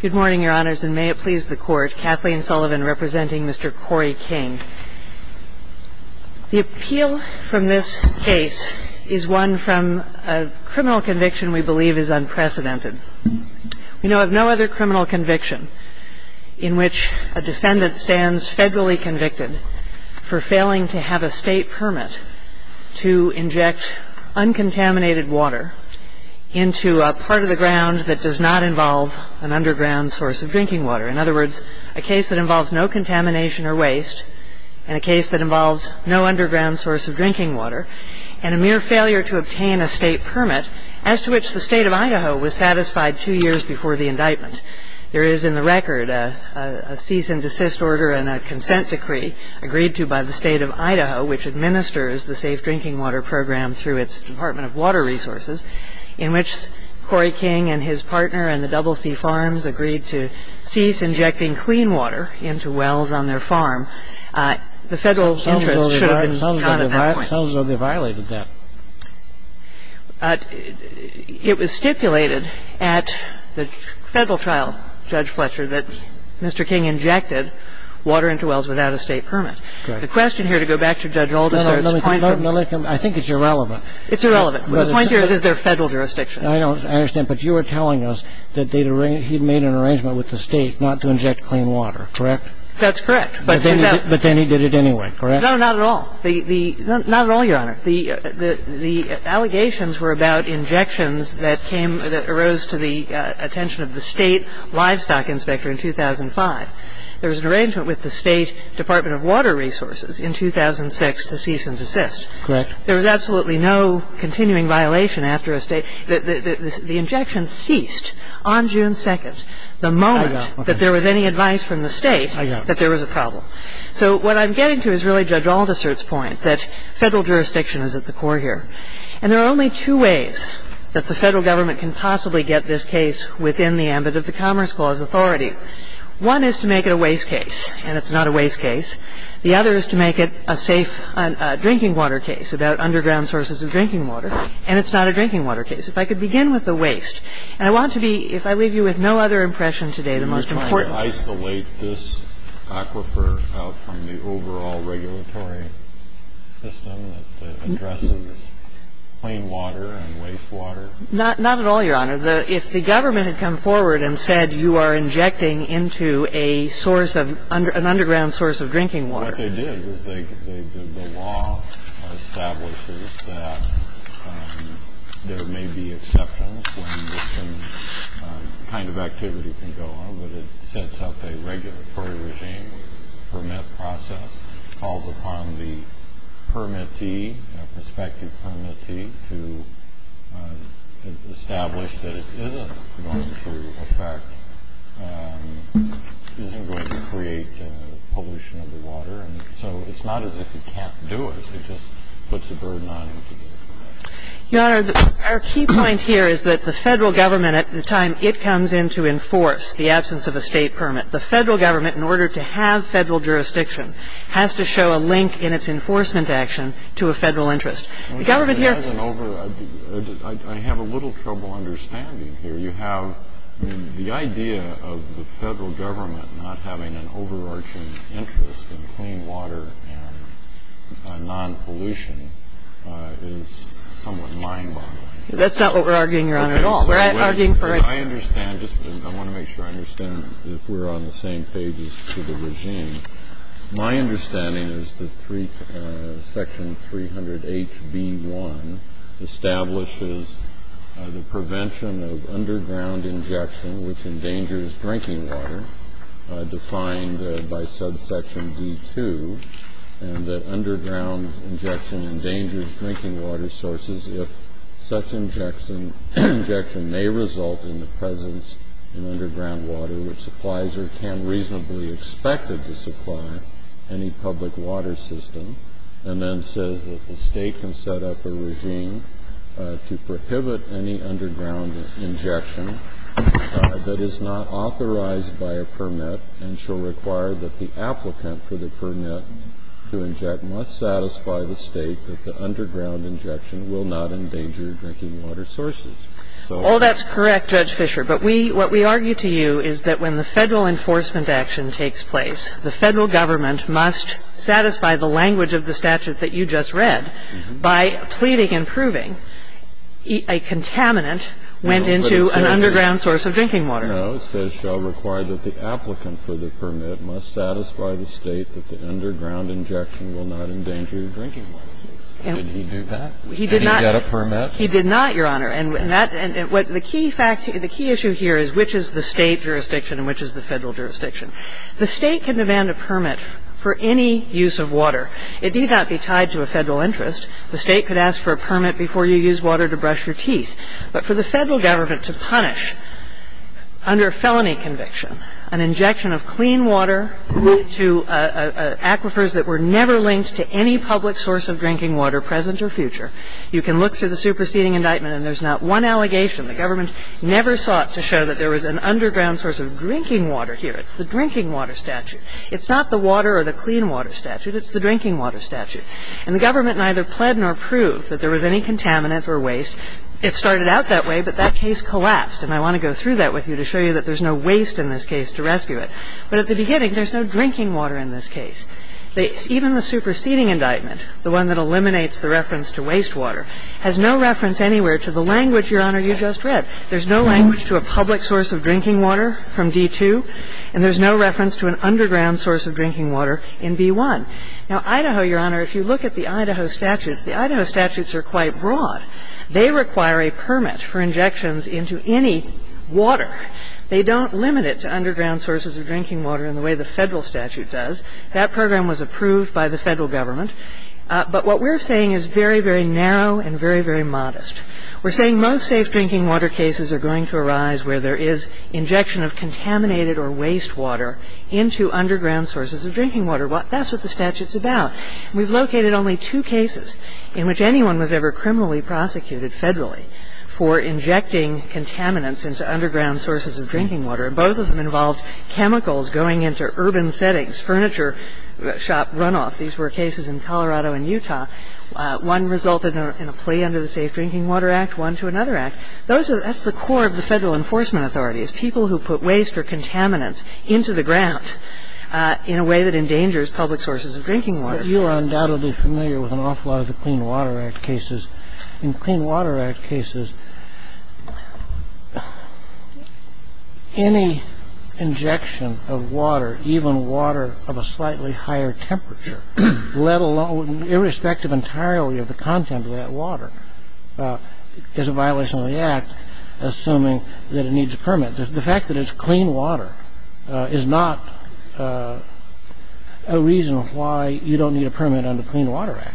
Good morning, Your Honors, and may it please the Court, Kathleen Sullivan representing Mr. Cory King. The appeal from this case is one from a criminal conviction we believe is unprecedented. We know of no other criminal conviction in which a defendant stands federally convicted for failing to have a state permit to inject uncontaminated water into a part of the ground that does not involve an underground source of drinking water. In other words, a case that involves no contamination or waste and a case that involves no underground source of drinking water and a mere failure to obtain a state permit, as to which the State of Idaho was satisfied two years before the indictment. There is in the record a cease and desist order and a consent decree agreed to by the State of Idaho, which administers the safe drinking water program through its Department of Water Resources, in which Cory King and his partner and the Double C Farms agreed to cease injecting clean water into wells on their farm. The Federal interest should have been shot at that point. It sounds as though they violated that. It was stipulated at the Federal trial, Judge Fletcher, that Mr. King injected water into wells without a state permit. Correct. The question here, to go back to Judge Alderson's point... No, no. I think it's irrelevant. It's irrelevant. The point here is, is there a Federal jurisdiction? I don't understand. But you are telling us that he had made an arrangement with the State not to inject clean water. Correct? That's correct. But then he did it anyway. Correct? No, not at all. Not at all, Your Honor. The allegations were about injections that arose to the attention of the State Livestock Inspector in 2005. There was an arrangement with the State Department of Water Resources in 2006 to cease and desist. Correct. There was absolutely no continuing violation after a State. The injection ceased on June 2nd, the moment that there was any advice from the State that there was a problem. So what I'm getting to is really Judge Alderson's point, that Federal jurisdiction is at the core here. And there are only two ways that the Federal Government can possibly get this case within the ambit of the Commerce Clause authority. One is to make it a waste case, and it's not a waste case. The other is to make it a safe drinking water case about underground sources of drinking water, and it's not a drinking water case. If I could begin with the waste. And I want to be, if I leave you with no other impression today, the most important Are you trying to isolate this aquifer out from the overall regulatory system that addresses plain water and waste water? Not at all, Your Honor. If the Government had come forward and said you are injecting into a source of, an underground source of drinking water. What they did was they, the law establishes that there may be exceptions when some kind of activity can go on, but it sets up a regulatory regime, permit process, calls upon the permittee, prospective permittee, to establish that it isn't going to affect, isn't going to create pollution of the water. So it's not as if you can't do it. It just puts a burden on you to do it. Your Honor, our key point here is that the Federal Government, at the time it comes in to enforce the absence of a State permit, the Federal Government, in order to have Federal jurisdiction, has to show a link in its enforcement action to a Federal interest. The Government here has an over- I have a little trouble understanding here. You have the idea of the Federal Government not having an overarching interest in clean water and non-pollution is somewhat mind-boggling. That's not what we're arguing, Your Honor, at all. We're arguing for a- I understand. I want to make sure I understand if we're on the same page as to the regime. My understanding is that section 300HB1 establishes the prevention of underground injection, which endangers drinking water, defined by subsection D2, and that underground injection endangers drinking water sources if such injection may result in the presence in underground water which supplies or can reasonably expected to supply any public water system, and then says that the State can set up a regime to prohibit any underground injection that is not authorized by a permit and shall require that the applicant for the permit to inject must satisfy the State that the underground injection will not endanger drinking water sources. So- Oh, that's correct, Judge Fischer. But we – what we argue to you is that when the Federal enforcement action takes place, the Federal Government must satisfy the language of the statute that you just read by pleading and proving a contaminant went into an underground source of drinking water. And the State can demand a permit for any use of water. It need not be tied to a Federal interest. The State could ask for a permit before you use water to brush your teeth. But for the Federal Government to punish a person for using water to brush their teeth and to demand a permit for any use of water, the State must satisfy the statute that you just read by pleading and proving a contaminant went into an underground source of drinking water. Under felony conviction, an injection of clean water to aquifers that were never linked to any public source of drinking water, present or future, you can look through the superseding indictment and there's not one allegation. The Government never sought to show that there was an underground source of drinking water here. It's the drinking water statute. It's not the water or the clean water statute. It's the drinking water statute. And the Government neither pled nor proved that there was any contaminant or waste. It started out that way, but that case collapsed. And I want to go through that with you to show you that there's no waste in this case to rescue it. But at the beginning, there's no drinking water in this case. Even the superseding indictment, the one that eliminates the reference to wastewater, has no reference anywhere to the language, Your Honor, you just read. There's no language to a public source of drinking water from D-2, and there's no reference to an underground source of drinking water in B-1. Now, Idaho, Your Honor, if you look at the Idaho statutes, the Idaho statutes are quite broad. They require a permit for injections into any water. They don't limit it to underground sources of drinking water in the way the Federal statute does. That program was approved by the Federal Government. But what we're saying is very, very narrow and very, very modest. We're saying most safe drinking water cases are going to arise where there is injection of contaminated or wastewater into underground sources of drinking water. That's what the statute's about. And we've located only two cases in which anyone was ever criminally prosecuted federally for injecting contaminants into underground sources of drinking water, and both of them involved chemicals going into urban settings, furniture shop runoff. These were cases in Colorado and Utah. One resulted in a plea under the Safe Drinking Water Act, one to another act. Those are the core of the Federal enforcement authorities, people who put waste or contaminants into the ground in a way that endangers public sources of drinking water. But you are undoubtedly familiar with an awful lot of the Clean Water Act cases. In Clean Water Act cases, any injection of water, even water of a slightly higher temperature, let alone irrespective entirely of the content of that water, is a violation of the Act, assuming that it needs a permit. The fact that it's clean water is not a reason why you don't need a permit under Clean Water Act.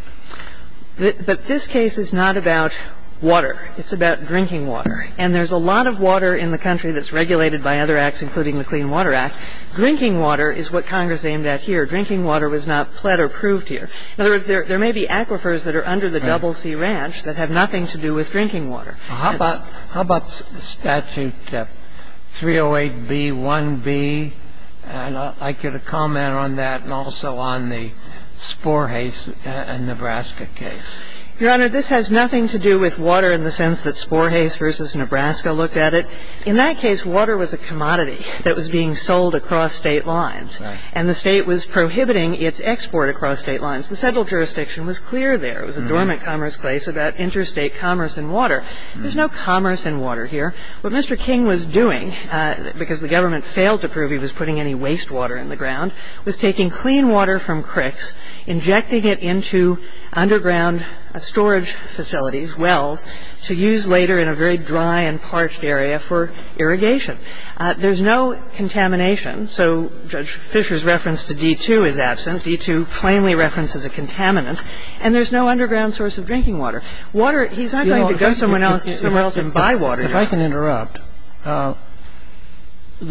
But this case is not about water. It's about drinking water. And there's a lot of water in the country that's regulated by other acts, including the Clean Water Act. Drinking water is what Congress aimed at here. Drinking water was not pled or proved here. In other words, there may be aquifers that are under the Double C Ranch that have nothing to do with drinking water. Kennedy. Well, how about Statute 308B-1B? And I'd like you to comment on that and also on the Sporhase and Nebraska case. Your Honor, this has nothing to do with water in the sense that Sporhase v. Nebraska looked at it. In that case, water was a commodity that was being sold across State lines. Right. And the State was prohibiting its export across State lines. The Federal jurisdiction was clear there. It was a dormant commerce place about interstate commerce in water. There's no commerce in water here. What Mr. King was doing, because the government failed to prove he was putting any wastewater in the ground, was taking clean water from creeks, injecting it into underground storage facilities, wells, to use later in a very dry and parched area for irrigation. There's no contamination. So Judge Fisher's reference to D2 is absent. D2 plainly references a contaminant. And there's no underground source of drinking water. Water, he's not going to go somewhere else and buy water. If I can interrupt, the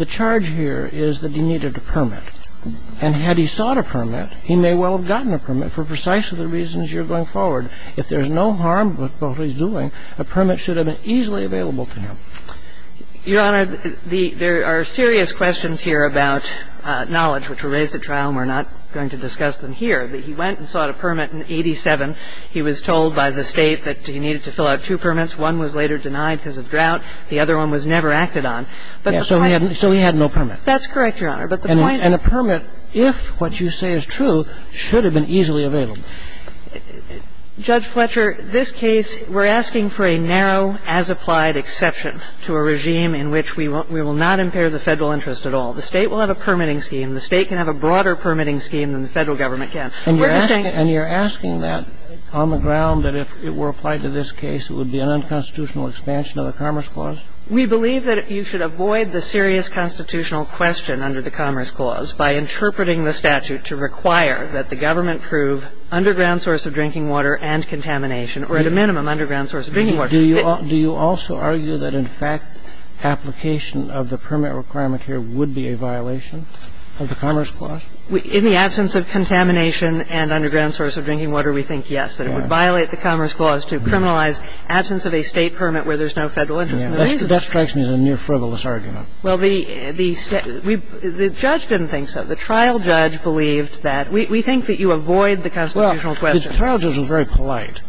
charge here is that he needed a permit. And had he sought a permit, he may well have gotten a permit for precisely the reasons you're going forward. If there's no harm with what he's doing, a permit should have been easily available to him. Your Honor, there are serious questions here about knowledge which were raised at trial and we're not going to discuss them here. But he went and sought a permit in 1987. He was told by the State that he needed to fill out two permits. One was later denied because of drought. The other one was never acted on. But the point of the case is that he had no permit. That's correct, Your Honor. And a permit, if what you say is true, should have been easily available. Judge Fletcher, this case, we're asking for a narrow as-applied exception to a regime in which we will not impair the Federal interest at all. The State will have a permitting scheme. The State can have a broader permitting scheme than the Federal Government can. We're just saying ---- And you're asking that on the ground that if it were applied to this case, it would be an unconstitutional expansion of the Commerce Clause? We believe that you should avoid the serious constitutional question under the Commerce Clause by interpreting the statute to require that the government prove underground source of drinking water and contamination, or at a minimum, underground source of drinking water. Do you also argue that, in fact, application of the permit requirement here would be a violation of the Commerce Clause? In the absence of contamination and underground source of drinking water, we think yes, that it would violate the Commerce Clause to criminalize absence of a State permit where there's no Federal interest. That strikes me as a near frivolous argument. Well, the judge didn't think so. The trial judge believed that we think that you avoid the constitutional question. Well, the trial judge was very polite,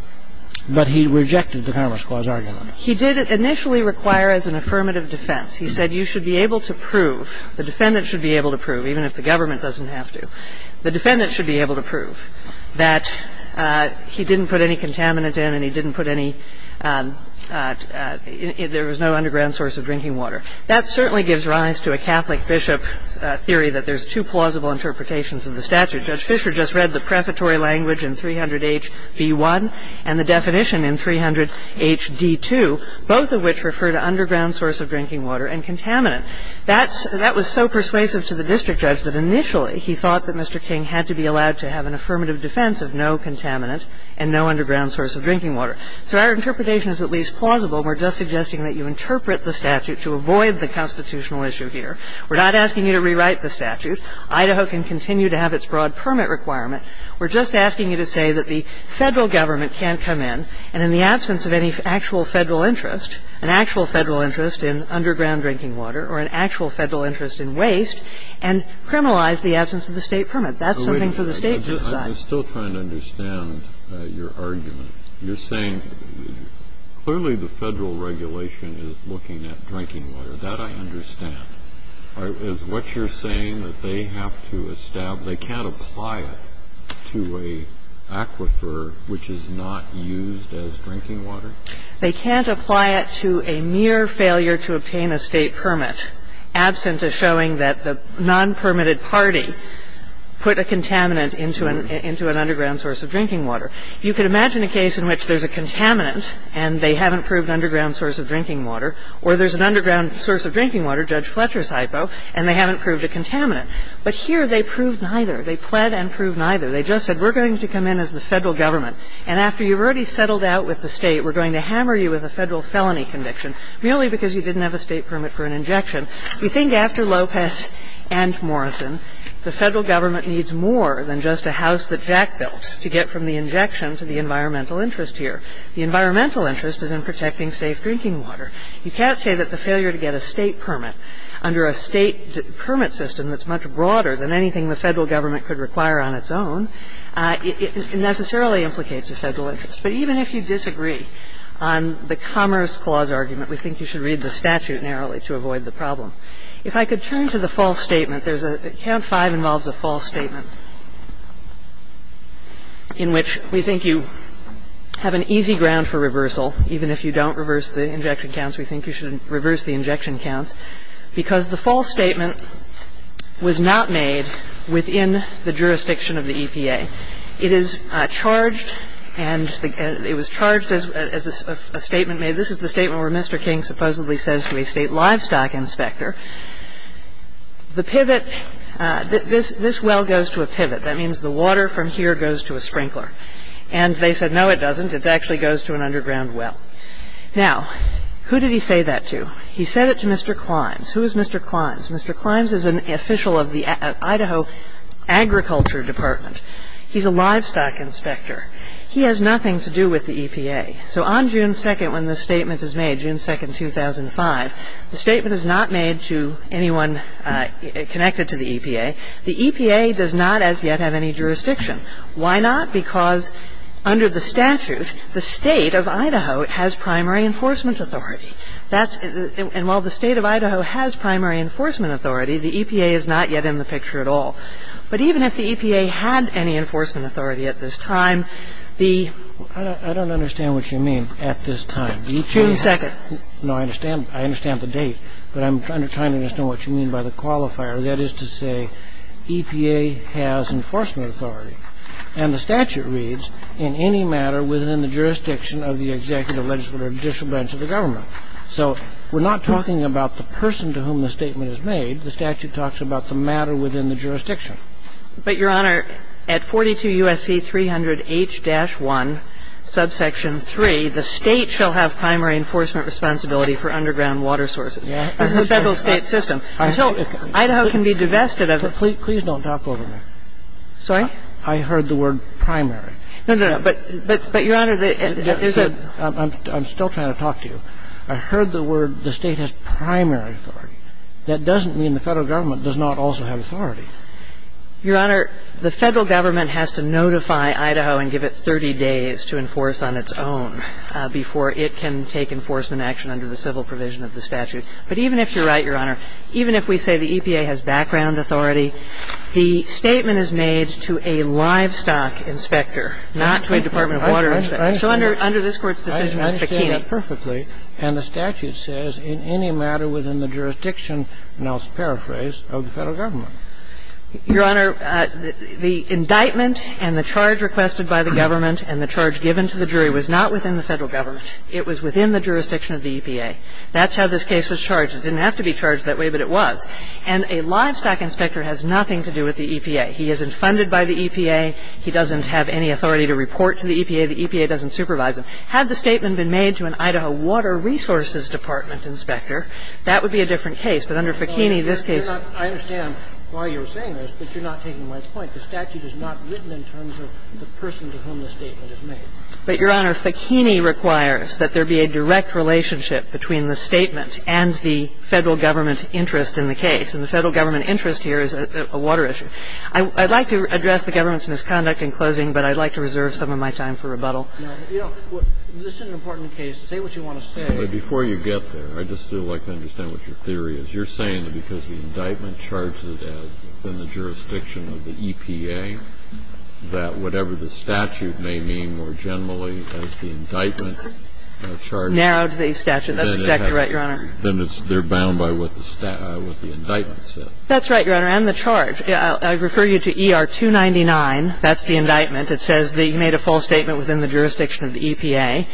but he rejected the Commerce Clause argument. He did initially require as an affirmative defense. He said you should be able to prove, the defendant should be able to prove, even if the government doesn't have to, the defendant should be able to prove that he didn't put any contaminant in and he didn't put any ‑‑ there was no underground source of drinking water. That certainly gives rise to a Catholic bishop theory that there's two plausible interpretations of the statute. Judge Fisher just read the prefatory language in 300HB1 and the definition in 300HD2, both of which refer to underground source of drinking water and contaminant. That's ‑‑ that was so persuasive to the district judge that initially he thought that Mr. King had to be allowed to have an affirmative defense of no contaminant and no underground source of drinking water. So our interpretation is at least plausible, and we're just suggesting that you interpret the statute to avoid the constitutional issue here. We're not asking you to rewrite the statute. Idaho can continue to have its broad permit requirement. We're just asking you to say that the Federal government can't come in, and in the interest, an actual Federal interest in underground drinking water or an actual Federal interest in waste, and criminalize the absence of the State permit. That's something for the State to decide. Kennedy. I'm still trying to understand your argument. You're saying clearly the Federal regulation is looking at drinking water. That I understand. Is what you're saying that they have to establish, they can't apply it to an aquifer which is not used as drinking water? They can't apply it to a mere failure to obtain a State permit, absent of showing that the non-permitted party put a contaminant into an underground source of drinking water. You could imagine a case in which there's a contaminant and they haven't proved an underground source of drinking water, or there's an underground source of drinking water, Judge Fletcher's hypo, and they haven't proved a contaminant. But here they proved neither. They pled and proved neither. They just said we're going to come in as the Federal Government, and after you've already settled out with the State, we're going to hammer you with a Federal felony conviction, merely because you didn't have a State permit for an injection. You think after Lopez and Morrison, the Federal Government needs more than just a house that Jack built to get from the injection to the environmental interest here. The environmental interest is in protecting safe drinking water. You can't say that the failure to get a State permit under a State permit system that's much broader than anything the Federal Government could require on its own, it necessarily implicates a Federal interest. But even if you disagree on the Commerce Clause argument, we think you should read the statute narrowly to avoid the problem. If I could turn to the false statement. There's a false statement. Count 5 involves a false statement in which we think you have an easy ground for reversal, even if you don't reverse the injection counts. We think you should reverse the injection counts, because the false statement was not made within the jurisdiction of the EPA. It is charged and it was charged as a statement made. This is the statement where Mr. King supposedly says to a State livestock inspector, the pivot, this well goes to a pivot. That means the water from here goes to a sprinkler. And they said, no, it doesn't. It actually goes to an underground well. Now, who did he say that to? He said it to Mr. Climbs. Who is Mr. Climbs? Mr. Climbs is an official of the Idaho Agriculture Department. He's a livestock inspector. He has nothing to do with the EPA. So on June 2nd, when this statement is made, June 2nd, 2005, the statement is not made to anyone connected to the EPA. The EPA does not as yet have any jurisdiction. Why not? Because under the statute, the State of Idaho has primary enforcement authority. That's the – and while the State of Idaho has primary enforcement authority, the EPA is not yet in the picture at all. But even if the EPA had any enforcement authority at this time, the – I don't understand what you mean, at this time. June 2nd. No, I understand. I understand the date. But I'm trying to understand what you mean by the qualifier. That is to say EPA has enforcement authority. And the statute reads, in any matter within the jurisdiction of the executive, legislative, or judicial branch of the government. So we're not talking about the person to whom the statement is made. The statute talks about the matter within the jurisdiction. But, Your Honor, at 42 U.S.C. 300H-1, subsection 3, the State shall have primary enforcement responsibility for underground water sources. This is a Federal State system. Until Idaho can be divested of it. Please don't talk over me. Sorry? I heard the word primary. No, no, no. But, Your Honor, there's a – I'm still trying to talk to you. I heard the word the State has primary authority. That doesn't mean the Federal Government does not also have authority. Your Honor, the Federal Government has to notify Idaho and give it 30 days to enforce on its own before it can take enforcement action under the civil provision of the statute. But even if you're right, Your Honor, even if we say the EPA has background authority, the statement is made to a livestock inspector, not to a Department of Water inspector. So under this Court's decision, it's Bikini. I understand that perfectly. And the statute says, in any matter within the jurisdiction, and I'll paraphrase, it's not within the jurisdiction of the Federal Government. Your Honor, the indictment and the charge requested by the government and the charge given to the jury was not within the Federal Government. It was within the jurisdiction of the EPA. That's how this case was charged. It didn't have to be charged that way, but it was. And a livestock inspector has nothing to do with the EPA. He isn't funded by the EPA. He doesn't have any authority to report to the EPA. The EPA doesn't supervise him. Had the statement been made to an Idaho Water Resources Department inspector, that would be a different case. But under Bikini, this case is not. I understand why you're saying this, but you're not taking my point. The statute is not written in terms of the person to whom the statement is made. But, Your Honor, Bikini requires that there be a direct relationship between the statement and the Federal Government interest in the case. And the Federal Government interest here is a water issue. I'd like to address the government's misconduct in closing, but I'd like to reserve some of my time for rebuttal. No. You know, this is an important case. Say what you want to say. But before you get there, I'd just like to understand what your theory is. You're saying that because the indictment charges it as within the jurisdiction of the EPA, that whatever the statute may mean more generally as the indictment charges it. Narrowed the statute. That's exactly right, Your Honor. Then they're bound by what the indictment says. That's right, Your Honor. And the charge. I refer you to ER-299. That's the indictment. It says that you made a false statement within the jurisdiction of the EPA.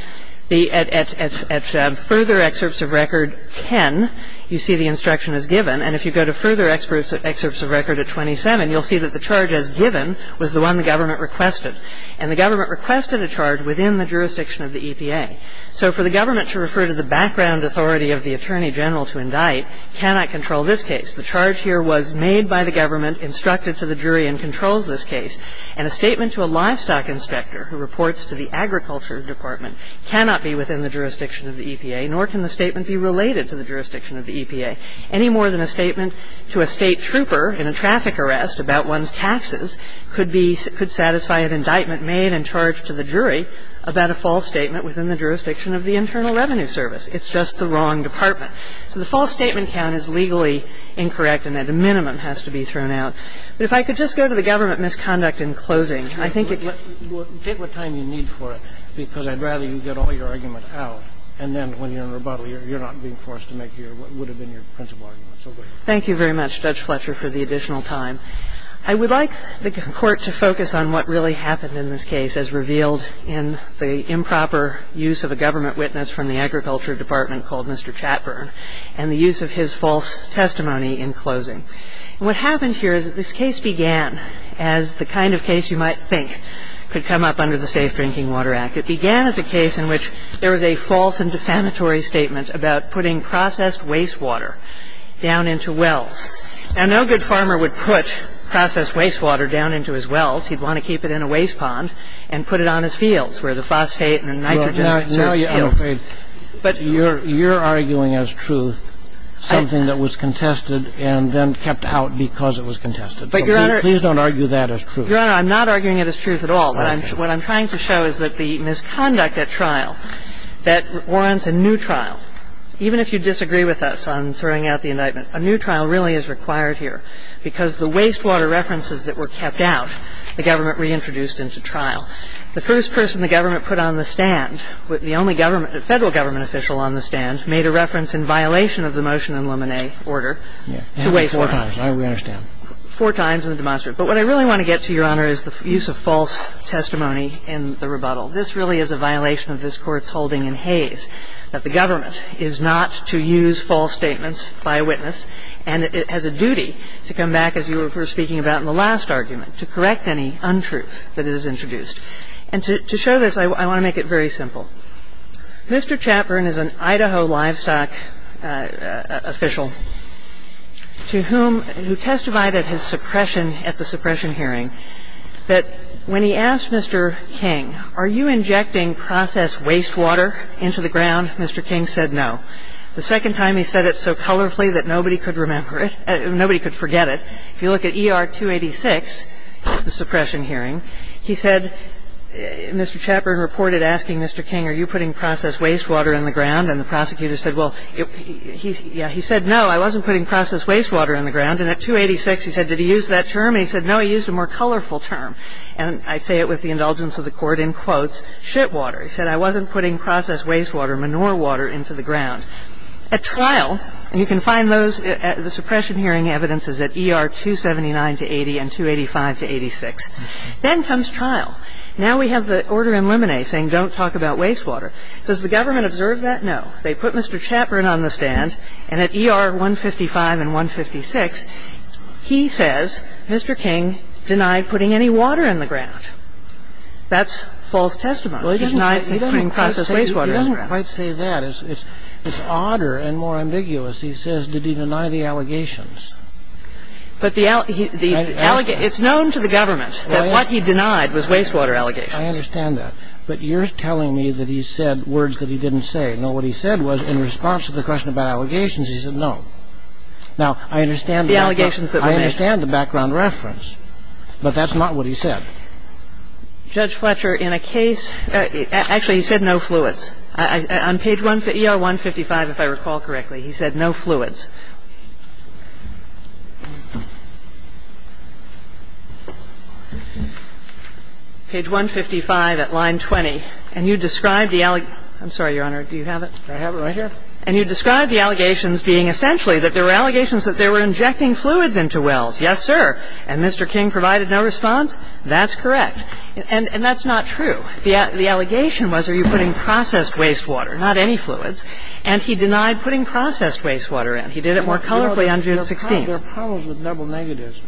At further excerpts of record 10, you see the instruction as given. And if you go to further excerpts of record at 27, you'll see that the charge as given was the one the government requested. And the government requested a charge within the jurisdiction of the EPA. So for the government to refer to the background authority of the attorney general to indict cannot control this case. The charge here was made by the government, instructed to the jury, and controls this case. And a statement to a livestock inspector who reports to the agriculture department cannot be within the jurisdiction of the EPA, nor can the statement be related to the jurisdiction of the EPA. Any more than a statement to a State trooper in a traffic arrest about one's taxes could be – could satisfy an indictment made and charged to the jury about a false statement within the jurisdiction of the Internal Revenue Service. It's just the wrong department. So the false statement count is legally incorrect and at a minimum has to be thrown out. But if I could just go to the government misconduct in closing, I think it's – Scalia. Well, take what time you need for it, because I'd rather you get all your argument out, and then when you're in rebuttal, you're not being forced to make your – what would have been your principal argument. So go ahead. Kagan. Thank you very much, Judge Fletcher, for the additional time. I would like the Court to focus on what really happened in this case as revealed in the improper use of a government witness from the agriculture department called Mr. Chatburn, and the use of his false testimony in closing. And what happened here is that this case began as the kind of case you might think could come up under the Safe Drinking Water Act. It began as a case in which there was a false and defamatory statement about putting processed wastewater down into wells. Now, no good farmer would put processed wastewater down into his wells. He'd want to keep it in a waste pond and put it on his fields where the phosphate and the nitrogen exert fuel. Now, this is a case in which you have to do a full investigation. And the State Department was being the first to bring a new trial in here. And you're arguing as truth something that was contested and then kept out because it was contested. So please don't argue that as truth. Your Honor, I'm not arguing it as truth at all. What I'm trying to show is that the misconduct at trial, that warrants a new trial, even if you disagree with us on throwing out the indictment, a new trial really is required here. Because the wastewater references that were kept out, the government reintroduced into trial. The first person the government put on the stand, the only federal government official on the stand, made a reference in violation of the motion in Lemonnet order to wastewater. Four times. I understand. Four times in the demonstration. But what I really want to get to, Your Honor, is the use of false testimony in the This really is a violation of this Court's holding in Hays, that the government is not to use false statements by a witness. And it has a duty to come back, as you were speaking about in the last argument, to correct any untruth that is introduced. And to show this, I want to make it very simple. Mr. Chapman is an Idaho livestock official to whom, who testified at his suppression at the suppression hearing, that when he asked Mr. King, are you injecting processed wastewater into the ground, Mr. King said no. The second time he said it so colorfully that nobody could remember it, nobody could forget it. If you look at ER 286, the suppression hearing, he said, Mr. Chapman reported asking Mr. King, are you putting processed wastewater in the ground? And the prosecutor said, well, yeah, he said, no, I wasn't putting processed wastewater in the ground. And at 286, he said, did he use that term? And he said, no, he used a more colorful term. And I say it with the indulgence of the Court, in quotes, shitwater. He said, I wasn't putting processed wastewater, manure water, into the ground. At trial, you can find those at the suppression hearing evidences at ER 279 to 80 and 285 to 86. Then comes trial. Now we have the order in Lemonade saying don't talk about wastewater. Does the government observe that? No. They put Mr. Chapman on the stand, and at ER 155 and 156, he says, Mr. King denied putting any water in the ground. That's false testimony. He denied putting processed wastewater in the ground. Well, he doesn't quite say that. It's odder and more ambiguous. He says, did he deny the allegations? But the allegations ñ it's known to the government that what he denied was wastewater allegations. I understand that. But you're telling me that he said words that he didn't say. No, what he said was in response to the question about allegations, he said no. Now, I understand the background. The allegations that were made. I understand the background reference, but that's not what he said. Judge Fletcher, in a case ñ actually, he said no fluids. On page 155, if I recall correctly, he said no fluids. Page 155 at line 20. And you describe the ñ I'm sorry, Your Honor, do you have it? I have it right here. And you describe the allegations being essentially that there were allegations that they were injecting fluids into wells. Yes, sir. And Mr. King provided no response. That's correct. And that's not true. The allegation was are you putting processed wastewater, not any fluids. And he denied putting processed wastewater in. He did it more colorfully on June 16th. Your Honor, there are problems with double negatives.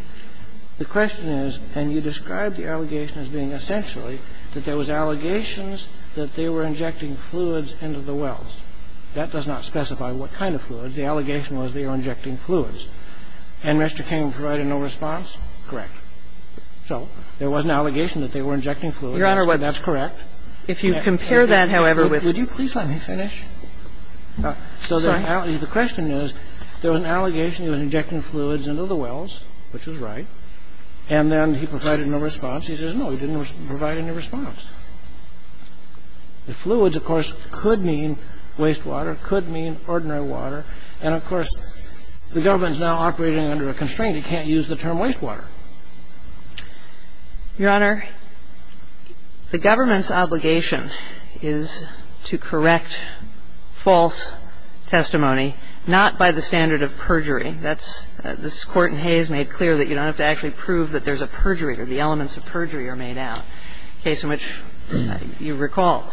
The question is, and you describe the allegation as being essentially that there was allegations that they were injecting fluids into the wells. That does not specify what kind of fluids. The allegation was they were injecting fluids. And Mr. King provided no response. Correct. So there was an allegation that they were injecting fluids. That's correct. If you compare that, however, with ñ Would you please let me finish? Sorry. The question is there was an allegation he was injecting fluids into the wells, which was right. And then he provided no response. He says no, he didn't provide any response. Fluids, of course, could mean wastewater, could mean ordinary water. And, of course, the government is now operating under a constraint. It can't use the term wastewater. Your Honor, the government's obligation is to correct false testimony, not by the standard of perjury. That's ñ this Court in Hayes made clear that you don't have to actually prove that there's a perjury or the elements of perjury are made out, a case in which you recall.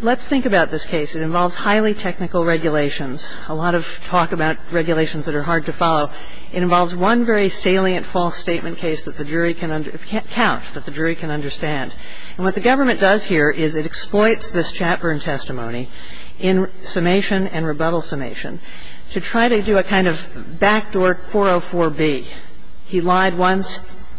Let's think about this case. It involves highly technical regulations. A lot of talk about regulations that are hard to follow. It involves one very salient false statement case that the jury can ñ counts that the jury can understand. And what the government does here is it exploits this Chatburn testimony in summation and rebuttal summation to try to do a kind of backdoor 404B. He lied once,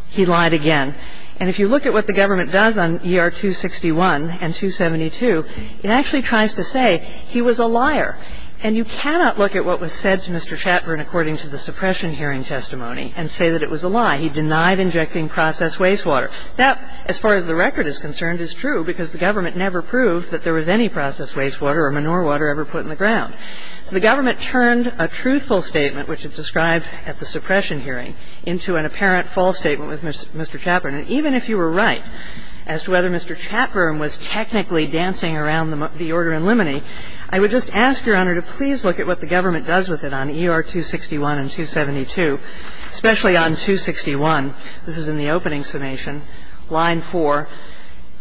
he lied again. And if you look at what the government does on ER 261 and 272, it actually tries to say he was a liar. And you cannot look at what was said to Mr. Chatburn according to the suppression hearing testimony and say that it was a lie. He denied injecting processed wastewater. That, as far as the record is concerned, is true because the government never proved that there was any processed wastewater or manure water ever put in the ground. So the government turned a truthful statement, which it described at the suppression hearing, into an apparent false statement with Mr. Chatburn. And even if you were right as to whether Mr. Chatburn was technically dancing around the order in limine, I would just ask, Your Honor, to please look at what the government does with it on ER 261 and 272, especially on 261. This is in the opening summation, line 4.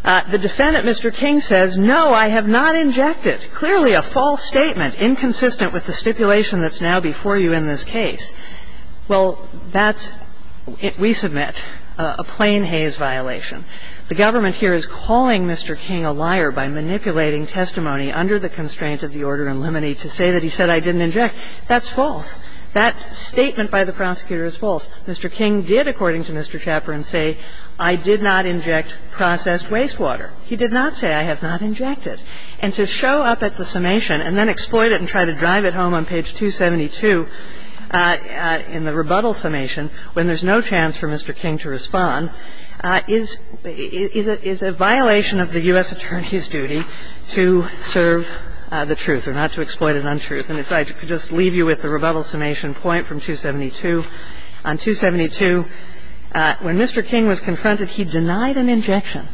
The defendant, Mr. King, says, no, I have not injected. Clearly a false statement, inconsistent with the stipulation that's now before you in this case. Well, that's, we submit, a plain Hays violation. The government here is calling Mr. King a liar by manipulating testimony under the constraint of the order in limine to say that he said, I didn't inject. That's false. That statement by the prosecutor is false. Mr. King did, according to Mr. Chatburn, say, I did not inject processed wastewater. He did not say, I have not injected. And to show up at the summation and then exploit it and try to drive it home on page 272 in the rebuttal summation when there's no chance for Mr. King to respond is a violation of the U.S. Attorney's duty to serve the truth and not to exploit an untruth. And if I could just leave you with the rebuttal summation point from 272. On 272, when Mr. King was confronted, he denied an injection.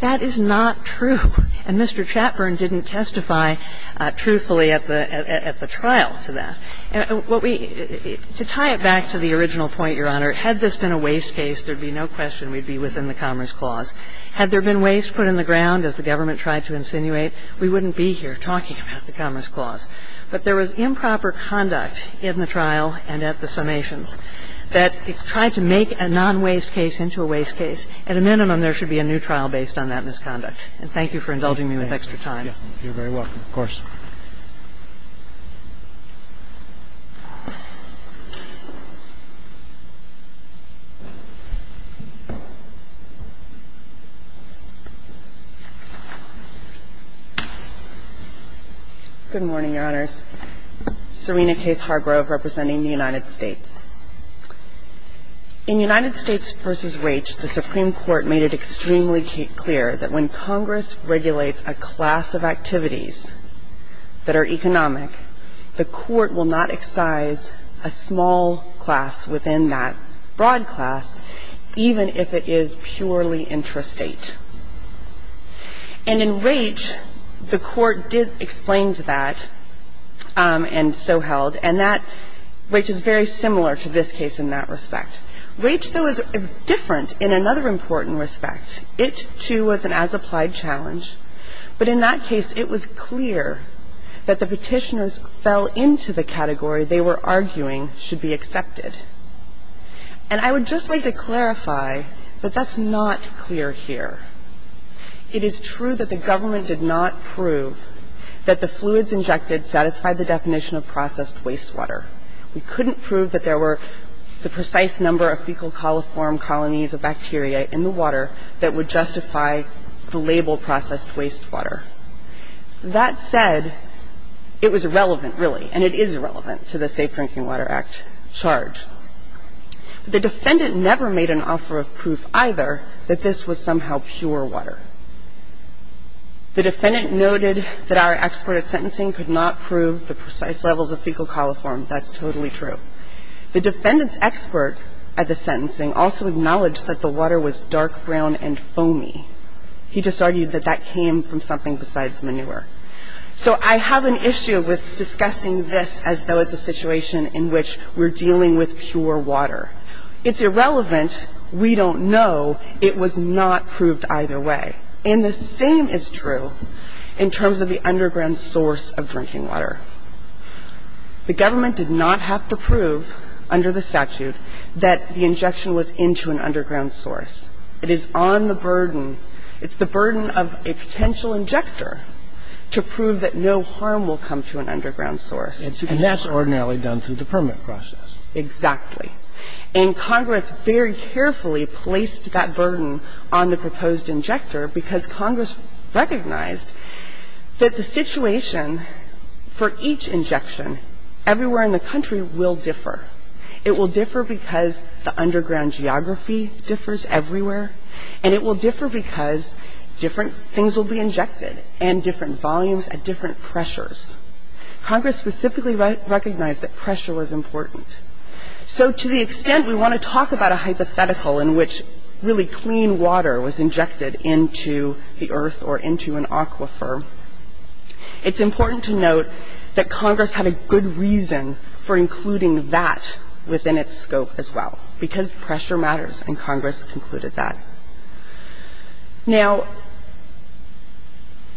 That is not true. And Mr. Chatburn didn't testify truthfully at the trial to that. What we, to tie it back to the original point, Your Honor, had this been a waste case, there would be no question we would be within the Commerce Clause. Had there been waste put in the ground as the government tried to insinuate, we wouldn't be here talking about the Commerce Clause. But there was improper conduct in the trial and at the summations that tried to make a non-waste case into a waste case. At a minimum, there should be a new trial based on that misconduct. And thank you for indulging me with extra time. You're very welcome, of course. Good morning, Your Honors. Serena Case Hargrove representing the United States. In United States v. Raich, the Supreme Court made it extremely clear that when Congress regulates a class of activities that are economic, the Court will not excise a small class within that broad class, even if it is purely intrastate. And in Raich, the Court did explain to that and so held. And that Raich is very similar to this case in that respect. Raich, though, is different in another important respect. It, too, was an as-applied challenge. But in that case, it was clear that the Petitioners fell into the category they were arguing should be accepted. And I would just like to clarify that that's not clear here. It is true that the government did not prove that the fluids injected satisfied the definition of processed wastewater. We couldn't prove that there were the precise number of fecal coliform colonies of bacteria in the water that would justify the label processed wastewater. That said, it was irrelevant, really, and it is irrelevant to the Safe Drinking Water Act charge. The defendant never made an offer of proof either that this was somehow pure water. The defendant noted that our expert at sentencing could not prove the precise levels of fecal coliform. That's totally true. The defendant's expert at the sentencing also acknowledged that the water was dark brown and foamy. He just argued that that came from something besides manure. So I have an issue with discussing this as though it's a situation in which we're dealing with pure water. It's irrelevant. We don't know. It was not proved either way. And the same is true in terms of the underground source of drinking water. The government did not have to prove under the statute that the injection was into an underground source. It is on the burden. It's the burden of a potential injector to prove that no harm will come to an underground source. And that's ordinarily done through the permit process. Exactly. And Congress very carefully placed that burden on the proposed injector because Congress recognized that the situation for each injection everywhere in the country will differ. It will differ because the underground geography differs everywhere, and it will differ because different things will be injected and different volumes at different pressures. Congress specifically recognized that pressure was important. So to the extent we want to talk about a hypothetical in which really clean water was injected into the earth or into an aquifer, it's important to note that Congress had a good reason for including that within its scope as well, because pressure matters, and Congress concluded that. Now,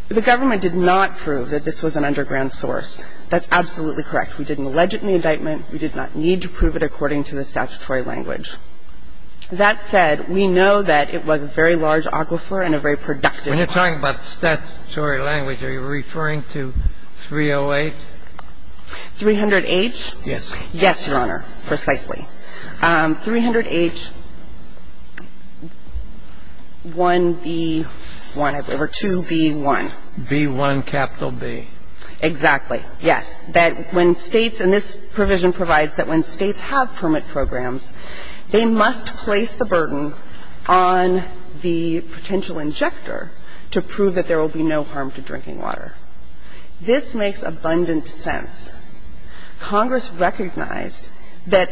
the government did not prove that this was an underground source. That's absolutely correct. We didn't allege it in the indictment. We did not need to prove it according to the statutory language. That said, we know that it was a very large aquifer and a very productive aquifer. When you're talking about statutory language, are you referring to 308? 300H? Yes. Yes, Your Honor, precisely. 300H1B1, I believe, or 2B1. B1 capital B. Exactly. Yes. Now, Congress recognized that when states, and this provision provides that when states have permit programs, they must place the burden on the potential injector to prove that there will be no harm to drinking water. This makes abundant sense. Congress recognized that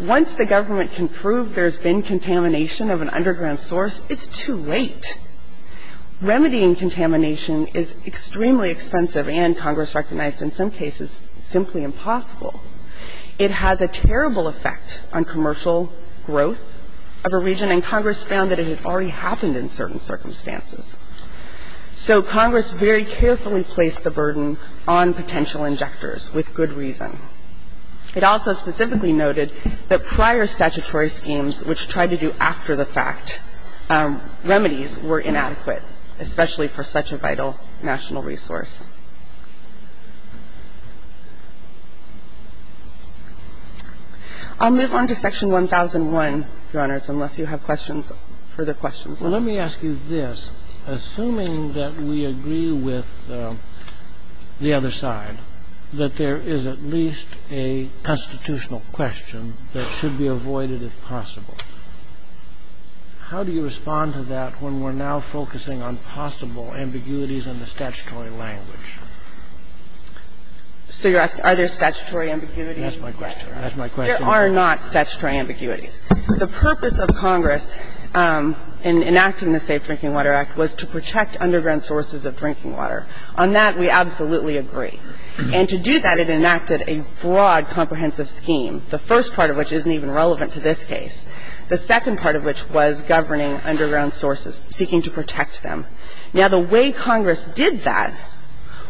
once the government can prove there's been contamination of an underground source, it's too late. Remedying contamination is extremely expensive and, Congress recognized in some cases, simply impossible. It has a terrible effect on commercial growth of a region, and Congress found that it had already happened in certain circumstances. So Congress very carefully placed the burden on potential injectors with good reason. It also specifically noted that prior statutory schemes which tried to do after-the-fact remedies were inadequate, especially for such a vital national resource. I'll move on to Section 1001, Your Honors, unless you have questions, further questions. Well, let me ask you this. Assuming that we agree with the other side, that there is at least a constitutional question that should be avoided if possible. How do you respond to that when we're now focusing on possible ambiguities in the statutory language? So you're asking, are there statutory ambiguities? That's my question. There are not statutory ambiguities. The purpose of Congress in enacting the Safe Drinking Water Act was to protect underground sources of drinking water. On that, we absolutely agree. And to do that, it enacted a broad comprehensive scheme, the first part of which isn't even relevant to this case, the second part of which was governing underground sources, seeking to protect them. Now, the way Congress did that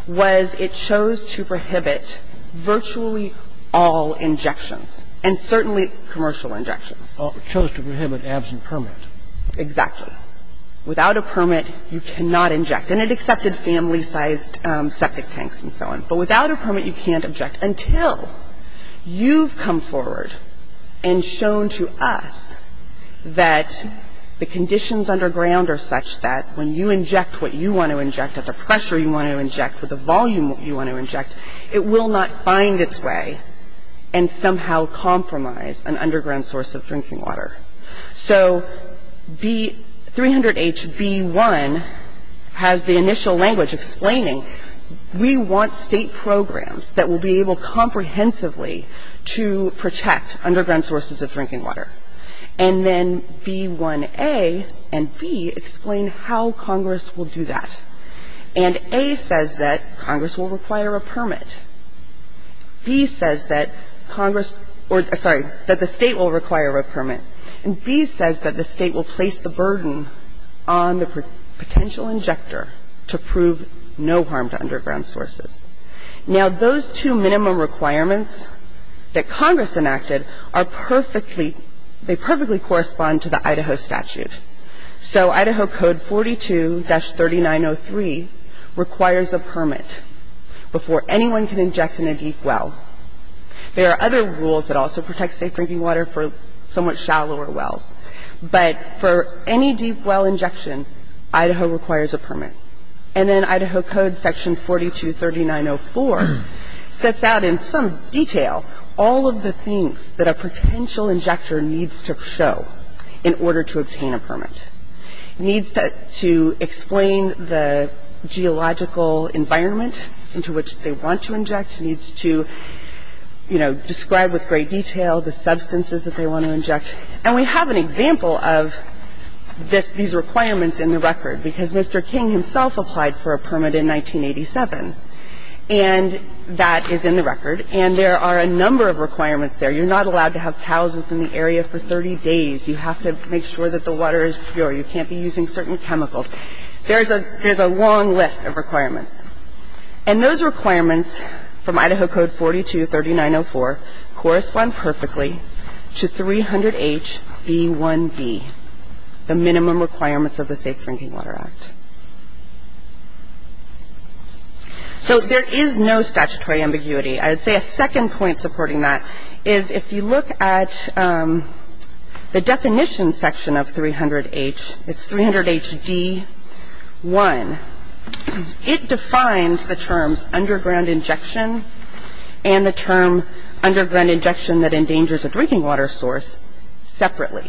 was it chose to prohibit virtually all injections and certainly commercial injections. It chose to prohibit absent permit. Exactly. Without a permit, you cannot inject. And it accepted family-sized septic tanks and so on. But without a permit, you can't inject until you've come forward and shown to us that the conditions underground are such that when you inject what you want to inject at the pressure you want to inject with the volume you want to inject, it will not find its way and somehow compromise an underground source of drinking water. So B 300H, B1 has the initial language explaining we want State programs that will be able comprehensively to protect underground sources of drinking water. And then B1A and B explain how Congress will do that. And A says that Congress will require a permit. B says that Congress or, sorry, that the State will require a permit. And B says that the State will place the burden on the potential injector to prove no harm to underground sources. Now, those two minimum requirements that Congress enacted are perfectly they perfectly correspond to the Idaho statute. So Idaho Code 42-3903 requires a permit before anyone can inject in a deep well. There are other rules that also protect safe drinking water for somewhat shallower wells, but for any deep well injection, Idaho requires a permit. And then Idaho Code section 42-3904 sets out in some detail all of the things that a potential injector needs to show in order to obtain a permit. It needs to explain the geological environment into which they want to inject. It needs to, you know, describe with great detail the substances that they want to inject. And we have an example of this, these requirements in the record, because Mr. King himself applied for a permit in 1987. And that is in the record. And there are a number of requirements there. You're not allowed to have cows within the area for 30 days. You have to make sure that the water is pure. You can't be using certain chemicals. There's a long list of requirements. And those requirements from Idaho Code 42-3904 correspond perfectly to 300HB1B, the minimum requirements of the Safe Drinking Water Act. So there is no statutory ambiguity. I would say a second point supporting that is if you look at the definition section of 300H, it's 300HD1, it defines the terms underground injection and the term underground injection that endangers a drinking water source separately.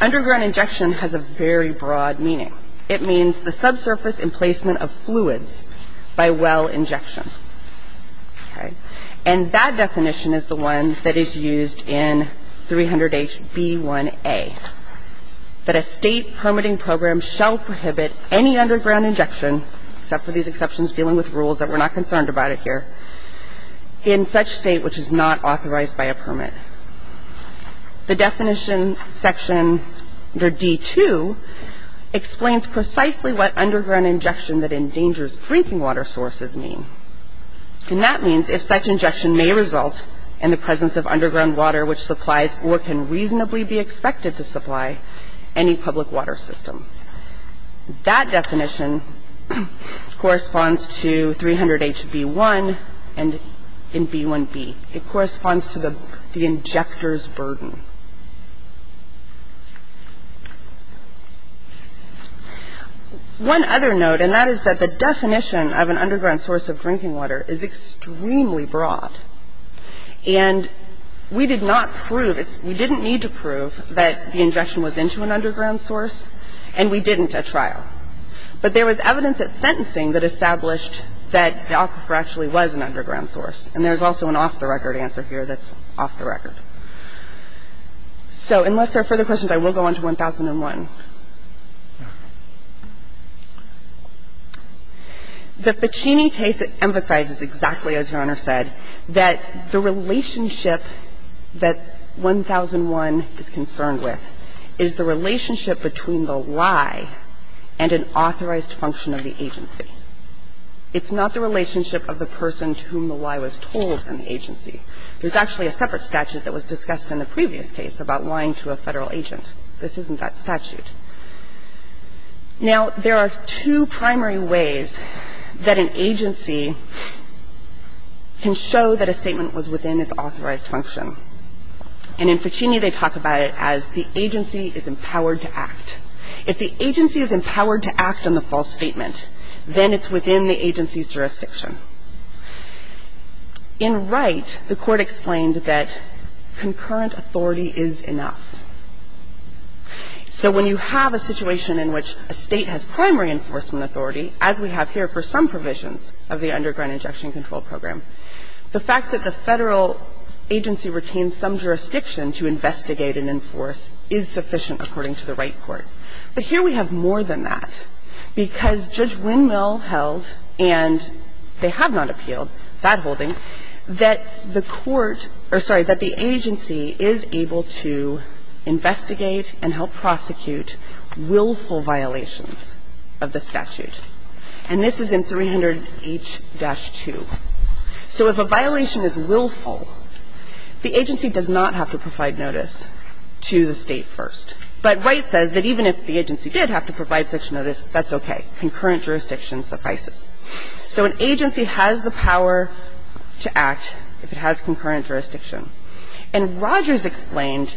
Underground injection has a very broad meaning. It means the subsurface emplacement of fluids by well injection. Okay. And that definition is the one that is used in 300HB1A, that a State permitting program shall prohibit any underground injection, except for these exceptions dealing with rules that we're not concerned about it here, in such State which is not authorized by a permit. The definition section under D2 explains precisely what underground injection that endangers drinking water sources mean. And that means if such injection may result in the presence of underground water which supplies or can reasonably be expected to supply any public water system. That definition corresponds to 300HB1 and in B1B. It corresponds to the injector's burden. One other note and that is that the definition of an underground source of drinking water is extremely broad. And we did not prove, we didn't need to prove that the injection was into an underground source and we didn't at trial. But there was evidence at sentencing that established that the aquifer actually was an underground source and there's also an off-the-record answer here that's off-the-record. So unless there are further questions, I will go on to 1001. The Ficini case emphasizes exactly, as Your Honor said, that the relationship that 1001 is concerned with is the relationship between the lie and an authorized function of the agency. It's not the relationship of the person to whom the lie was told in the agency. There's actually a separate statute that was discussed in the previous case about lying to a Federal agent. This isn't that statute. Now, there are two primary ways that an agency can show that a statement was within its authorized function. And in Ficini, they talk about it as the agency is empowered to act. If the agency is empowered to act on the false statement, then it's within the agency's jurisdiction. In Wright, the Court explained that concurrent authority is enough. So when you have a situation in which a State has primary enforcement authority, as we have here for some provisions of the Underground Injection Control Program, the fact that the Federal agency retains some jurisdiction to investigate and enforce is sufficient according to the Wright court. But here we have more than that, because Judge Windmill held, and they have not appealed that holding, that the Court or, sorry, that the agency is able to investigate and help prosecute willful violations of the statute. And this is in 300H-2. So if a violation is willful, the agency does not have to provide notice to the State first. But Wright says that even if the agency did have to provide such notice, that's okay. Concurrent jurisdiction suffices. So an agency has the power to act if it has concurrent jurisdiction. And Rogers explained,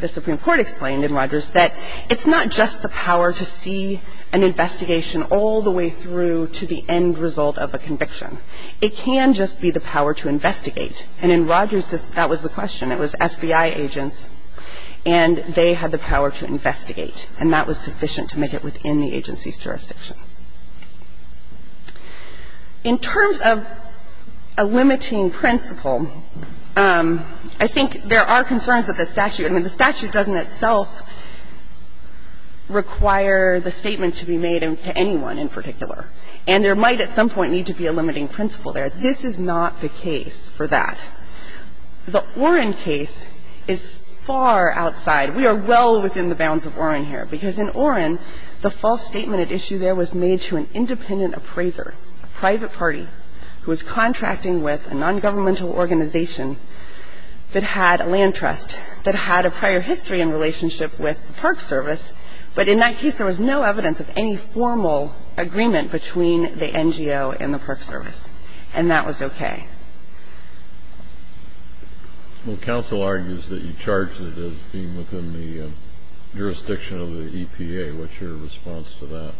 the Supreme Court explained in Rogers that it's not just the power to see an investigation all the way through to the end result of a conviction. It can just be the power to investigate. And in Rogers, that was the question. It was FBI agents. And they had the power to investigate. And that was sufficient to make it within the agency's jurisdiction. In terms of a limiting principle, I think there are concerns that the statute doesn't itself require the statement to be made to anyone in particular. And there might at some point need to be a limiting principle there. This is not the case for that. The Oren case is far outside. We are well within the bounds of Oren here. Because in Oren, the false statement at issue there was made to an independent appraiser, a private party, who was contracting with a nongovernmental organization that had a land trust, that had a prior history in relationship with the Park Service. But in that case, there was no evidence of any formal agreement between the NGO and the Park Service. And that was okay. Well, counsel argues that you charged it as being within the jurisdiction of the EPA. What's your response to that?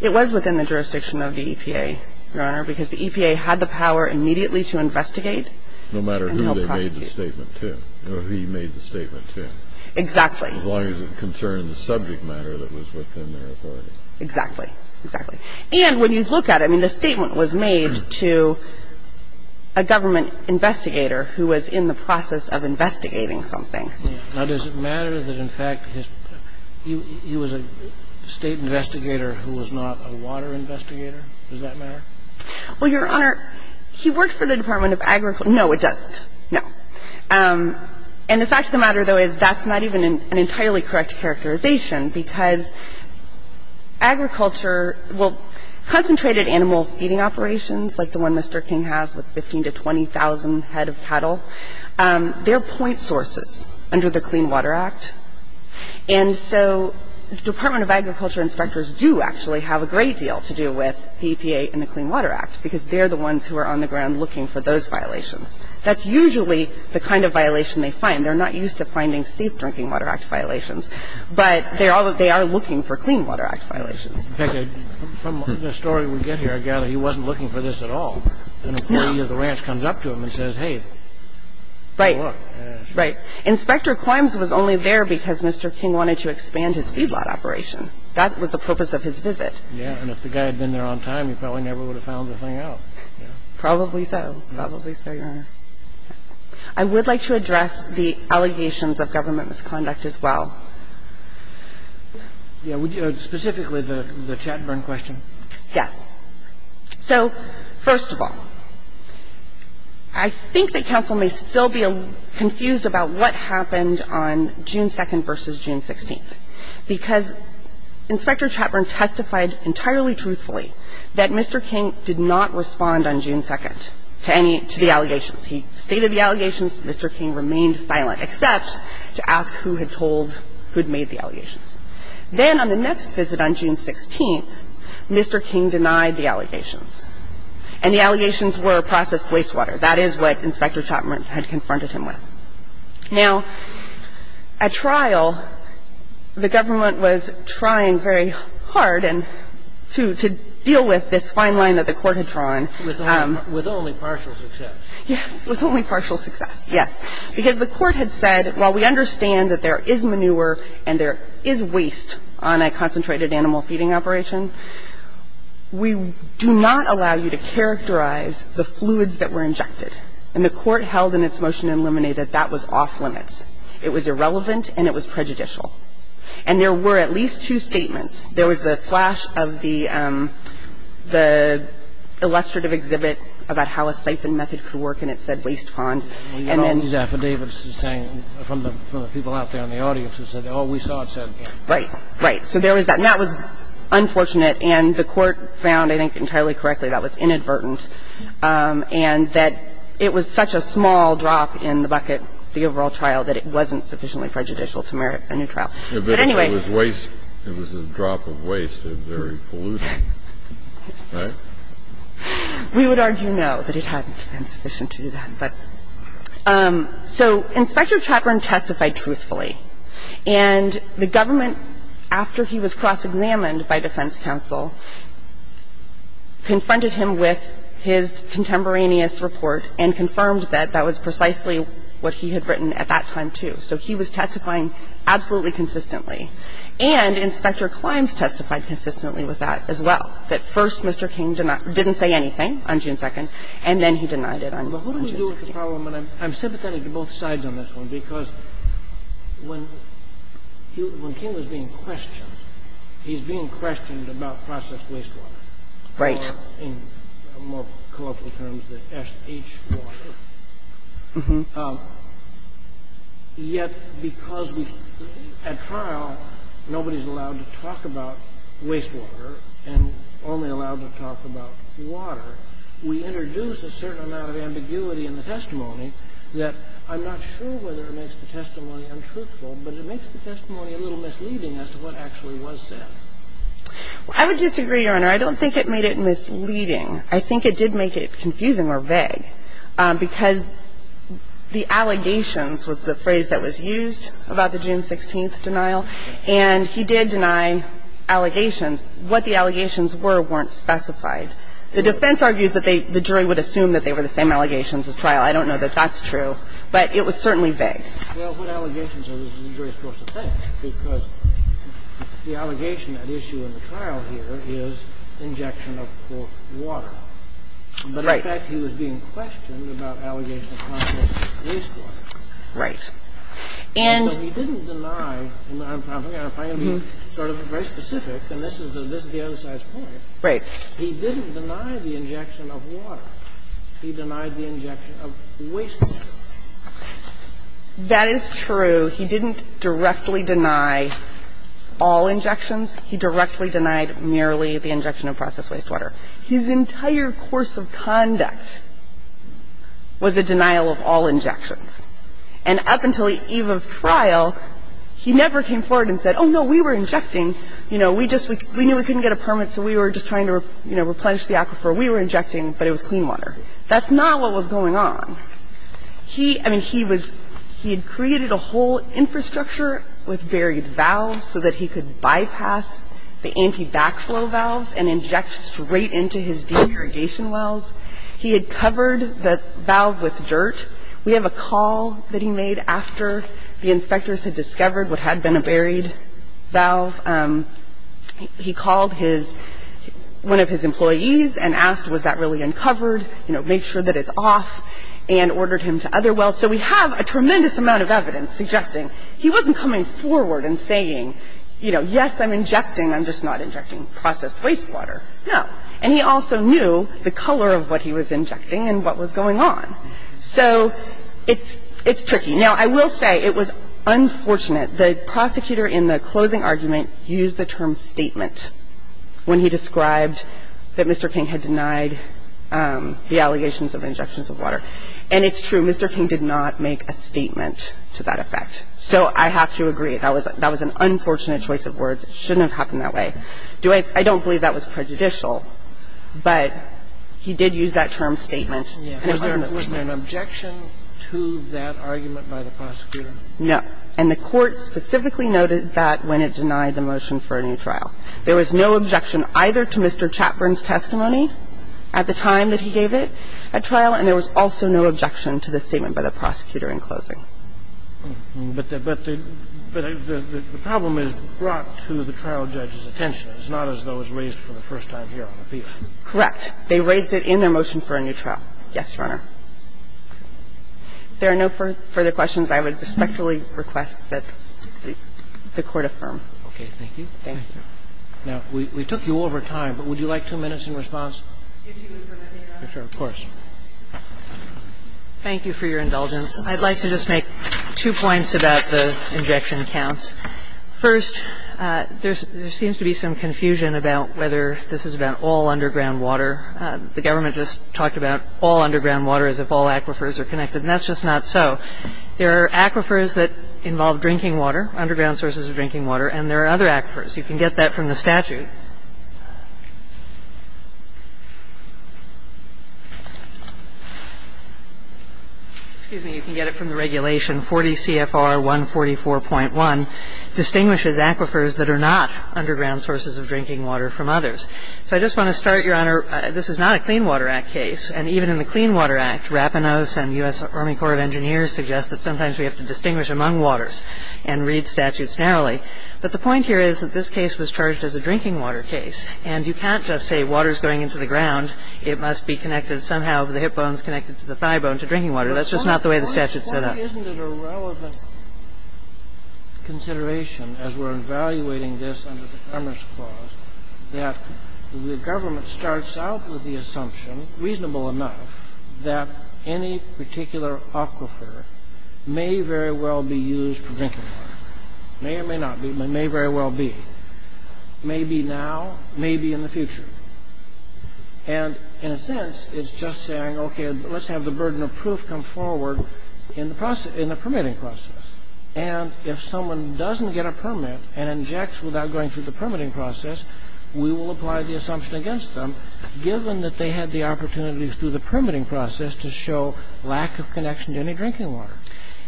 It was within the jurisdiction of the EPA, Your Honor, because the EPA had the power immediately to investigate and help prosecute. No matter who they made the statement to. Or who he made the statement to. Exactly. As long as it concerned the subject matter that was within their authority. Exactly. Exactly. And when you look at it, I mean, the statement was made to a government investigator who was in the process of investigating something. Now, does it matter that, in fact, he was a State investigator who was not a water investigator? Does that matter? Well, Your Honor, he worked for the Department of Agriculture. No, it doesn't. No. And the fact of the matter, though, is that's not even an entirely correct characterization because agriculture, well, concentrated animal feeding operations like the one Mr. King has with 15,000 to 20,000 head of cattle, they're point sources under the Clean Water Act. And so Department of Agriculture inspectors do actually have a great deal to do with EPA and the Clean Water Act because they're the ones who are on the ground looking for those violations. That's usually the kind of violation they find. They're not used to finding safe drinking water act violations. But they are looking for Clean Water Act violations. In fact, from the story we get here, I gather he wasn't looking for this at all. No. And the employee of the ranch comes up to him and says, hey, take a look. Right. Inspector Quimes was only there because Mr. King wanted to expand his feedlot operation. That was the purpose of his visit. Yes. And if the guy had been there on time, he probably never would have found the thing Probably so. Probably so, Your Honor. I would like to address the allegations of government misconduct as well. Yeah. Specifically the Chatburn question. Yes. So first of all, I think that counsel may still be confused about what happened on June 2nd versus June 16th, because Inspector Chatburn testified entirely truthfully that Mr. King did not respond on June 2nd to any of the allegations. He stated the allegations. Mr. King remained silent, except to ask who had told who had made the allegations. Then on the next visit on June 16th, Mr. King denied the allegations. And the allegations were processed wastewater. That is what Inspector Chatburn had confronted him with. Now, at trial, the government was trying very hard to deal with this fine line that the Court had drawn. With only partial success. Yes. With only partial success. Yes. Because the Court had said, while we understand that there is manure and there is waste on a concentrated animal feeding operation, we do not allow you to characterize the fluids that were injected. And the Court held in its motion in Luminae that that was off limits. It was irrelevant and it was prejudicial. And there were at least two statements. There was the flash of the illustrative exhibit about how a siphon method could work, and it said waste pond. And then you get all these affidavits from the people out there in the audience who said, oh, we saw it said. Right. Right. So there was that. And that was unfortunate. And the Court found, I think entirely correctly, that was inadvertent. And that it was such a small drop in the bucket, the overall trial, that it wasn't sufficiently prejudicial to merit a new trial. But anyway. But if it was waste, it was a drop of waste of very pollution. Right? We would argue, no, that it hadn't been sufficient to do that. But so Inspector Chapman testified truthfully. And the government, after he was cross-examined by defense counsel, confronted him with his contemporaneous report and confirmed that that was precisely what he had written at that time, too. So he was testifying absolutely consistently. And Inspector Climbs testified consistently with that as well, that first Mr. King didn't say anything on June 2nd, and then he denied it on June 16th. But what do we do with the problem? And I'm sympathetic to both sides on this one, because when King was being questioned, he's being questioned about processed wastewater. Right. In more colorful terms, the SH water. Mm-hmm. Yet, because we at trial, nobody's allowed to talk about wastewater and only allowed to talk about water, we introduce a certain amount of ambiguity in the testimony that I'm not sure whether it makes the testimony untruthful, but it makes the testimony a little misleading as to what actually was said. I would disagree, Your Honor. I don't think it made it misleading. I think it did make it confusing or vague, because the allegations was the phrase that was used about the June 16th denial, and he did deny allegations. What the allegations were weren't specified. The defense argues that they – the jury would assume that they were the same allegations as trial. I don't know that that's true, but it was certainly vague. Well, what allegations are the jury supposed to think? Because the allegation at issue in the trial here is injection of, quote, water. Right. But in fact, he was being questioned about allegations of processed wastewater. Right. And so he didn't deny – and I'm trying to be very specific, and this is the other side's point. Right. He didn't deny the injection of water. He denied the injection of wastewater. That is true. He didn't directly deny all injections. He directly denied merely the injection of processed wastewater. His entire course of conduct was a denial of all injections. And up until the eve of trial, he never came forward and said, oh, no, we were injecting, you know, we just – we knew we couldn't get a permit, so we were just trying to, you know, replenish the aquifer. We were injecting, but it was clean water. That's not what was going on. He – I mean, he was – he had created a whole infrastructure with buried valves so that he could bypass the anti-backflow valves and inject straight into his de-irrigation wells. He had covered the valve with dirt. We have a call that he made after the inspectors had discovered what had been a buried valve. He called his – one of his employees and asked, was that really uncovered, you know, make sure that it's off, and ordered him to other wells. So we have a tremendous amount of evidence suggesting he wasn't coming forward and saying, you know, yes, I'm injecting, I'm just not injecting processed wastewater. No. And he also knew the color of what he was injecting and what was going on. So it's tricky. Now, I will say it was unfortunate. The prosecutor in the closing argument used the term statement when he described that Mr. King had denied the allegations of injections of water. And it's true. Mr. King did not make a statement to that effect. So I have to agree. That was an unfortunate choice of words. It shouldn't have happened that way. I don't believe that was prejudicial, but he did use that term statement. And it wasn't a statement. And in the closing argument, it was a statement. And it was an objection to that argument by the prosecutor. No. And the Court specifically noted that when it denied the motion for a new trial. There was no objection either to Mr. Chapman's testimony at the time that he gave it at trial, and there was also no objection to the statement by the prosecutor in closing. But the problem is brought to the trial judge's attention. It's not as though it was raised for the first time here on appeal. Correct. They raised it in their motion for a new trial. Yes, Your Honor. If there are no further questions, I would respectfully request that the Court affirm. Okay. Thank you. Thank you. Now, we took you over time, but would you like two minutes in response? If you would permit me, Your Honor. Of course. Thank you for your indulgence. I'd like to just make two points about the injection counts. First, there seems to be some confusion about whether this is about all underground water. The government just talked about all underground water as if all aquifers are connected, and that's just not so. There are aquifers that involve drinking water, underground sources of drinking water, and there are other aquifers. You can get that from the statute. Excuse me. You can get it from the regulation 40 CFR 144.1, distinguishes aquifers that are not underground sources of drinking water from others. So I just want to start, Your Honor, this is not a Clean Water Act case, and even in the Clean Water Act, Rapinos and U.S. Army Corps of Engineers suggest that sometimes we have to distinguish among waters and read statutes narrowly. But the point here is that this case was charged as a drinking water case, and you can't just say water is going into the ground. It must be connected somehow. The hip bone is connected to the thigh bone to drinking water. That's just not the way the statute set up. Isn't it a relevant consideration, as we're evaluating this under the Commerce Clause, that the government starts out with the assumption, reasonable enough, that any particular aquifer may very well be used for drinking water. May or may not be, but may very well be. May be now, may be in the future. And in a sense, it's just saying, okay, let's have the burden of proof come forward in the permitting process. And if someone doesn't get a permit and injects without going through the permitting process, we will apply the assumption against them, given that they had the opportunities through the permitting process to show lack of connection to any drinking water.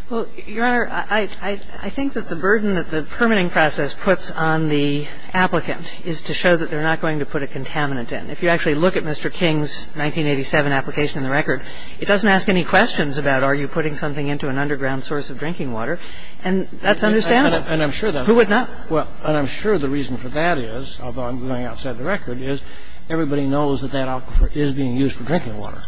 Well, Your Honor, I think that the burden that the permitting process puts on the applicant is to show that they're not going to put a contaminant in. If you actually look at Mr. King's 1987 application in the record, it doesn't ask any questions about are you putting something into an underground source of drinking water, and that's understandable. And I'm sure that's true. Who would not? Well, and I'm sure the reason for that is, although I'm going outside the record, is everybody knows that that aquifer is being used for drinking water.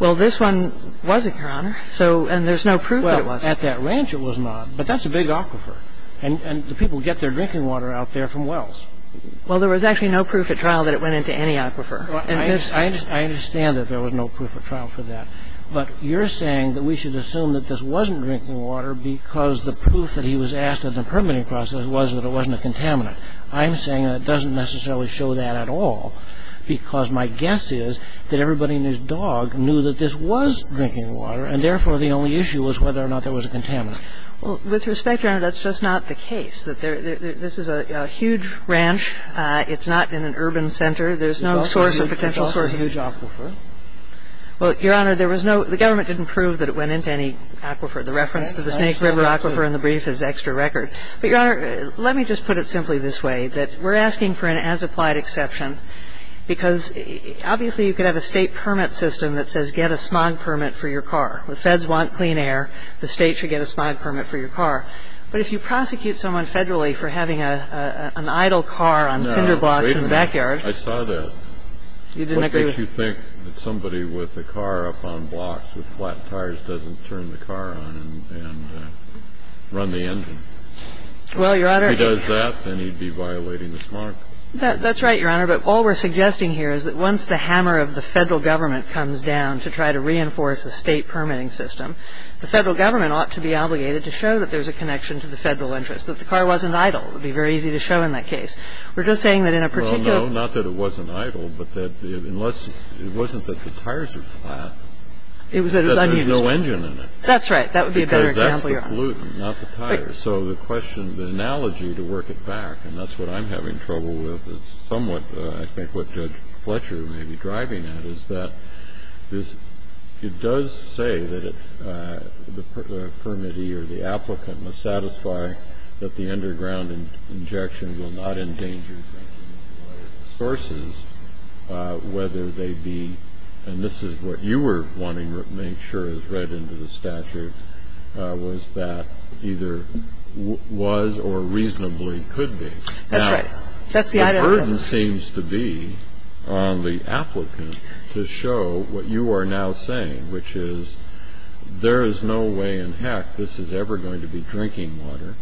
Well, this one wasn't, Your Honor. So, and there's no proof that it was. Well, at that ranch it was not. But that's a big aquifer. And the people get their drinking water out there from wells. Well, there was actually no proof at trial that it went into any aquifer. And this one. I understand that there was no proof at trial for that. But you're saying that we should assume that this wasn't drinking water because the proof that he was asked in the permitting process was that it wasn't a contaminant. I'm saying that it doesn't necessarily show that at all, because my guess is that everybody and his dog knew that this was drinking water, and therefore the only issue was whether or not there was a contaminant. Well, with respect, Your Honor, that's just not the case. This is a huge ranch. It's not in an urban center. There's no source or potential source. It's also a huge aquifer. Well, Your Honor, there was no the government didn't prove that it went into any aquifer. The reference to the Snake River aquifer in the brief is extra record. But, Your Honor, let me just put it simply this way, that we're asking for an as-applied exception, because obviously you could have a State permit system that says get a smog permit for your car. The Feds want clean air. The State should get a smog permit for your car. But if you prosecute someone federally for having an idle car on cinder blocks in the backyard. No, wait a minute. I saw that. You didn't agree with that? What makes you think that somebody with a car up on blocks with flat tires doesn't turn the car on and run the engine? Well, Your Honor. If he does that, then he'd be violating the smog. That's right, Your Honor. But all we're suggesting here is that once the hammer of the Federal Government comes down to try to reinforce a State permitting system, the Federal Government ought to be obligated to show that there's a connection to the Federal interest, that the car wasn't idle. It would be very easy to show in that case. We're just saying that in a particular. Well, no, not that it wasn't idle, but that unless it wasn't that the tires are flat. It was unused. There's no engine in it. That's right. That would be a better example, Your Honor. Because that's the pollutant, not the tires. So the question, the analogy, to work it back, and that's what I'm having trouble with, is somewhat I think what Judge Fletcher may be driving at, is that it does say that the permittee or the applicant must satisfy that the underground injection will not endanger the public drinking water. I'm trying to get at whether there's a connection to the Federal interest. I'm trying to get at whether there are sources, whether they be, and this is what you were wanting to make sure is read into the statute, was that either was or reasonably could be. That's right. That's the idea. The burden seems to be on the applicant to show what you are now saying, which is there is no way in heck this is ever going to be drinking water,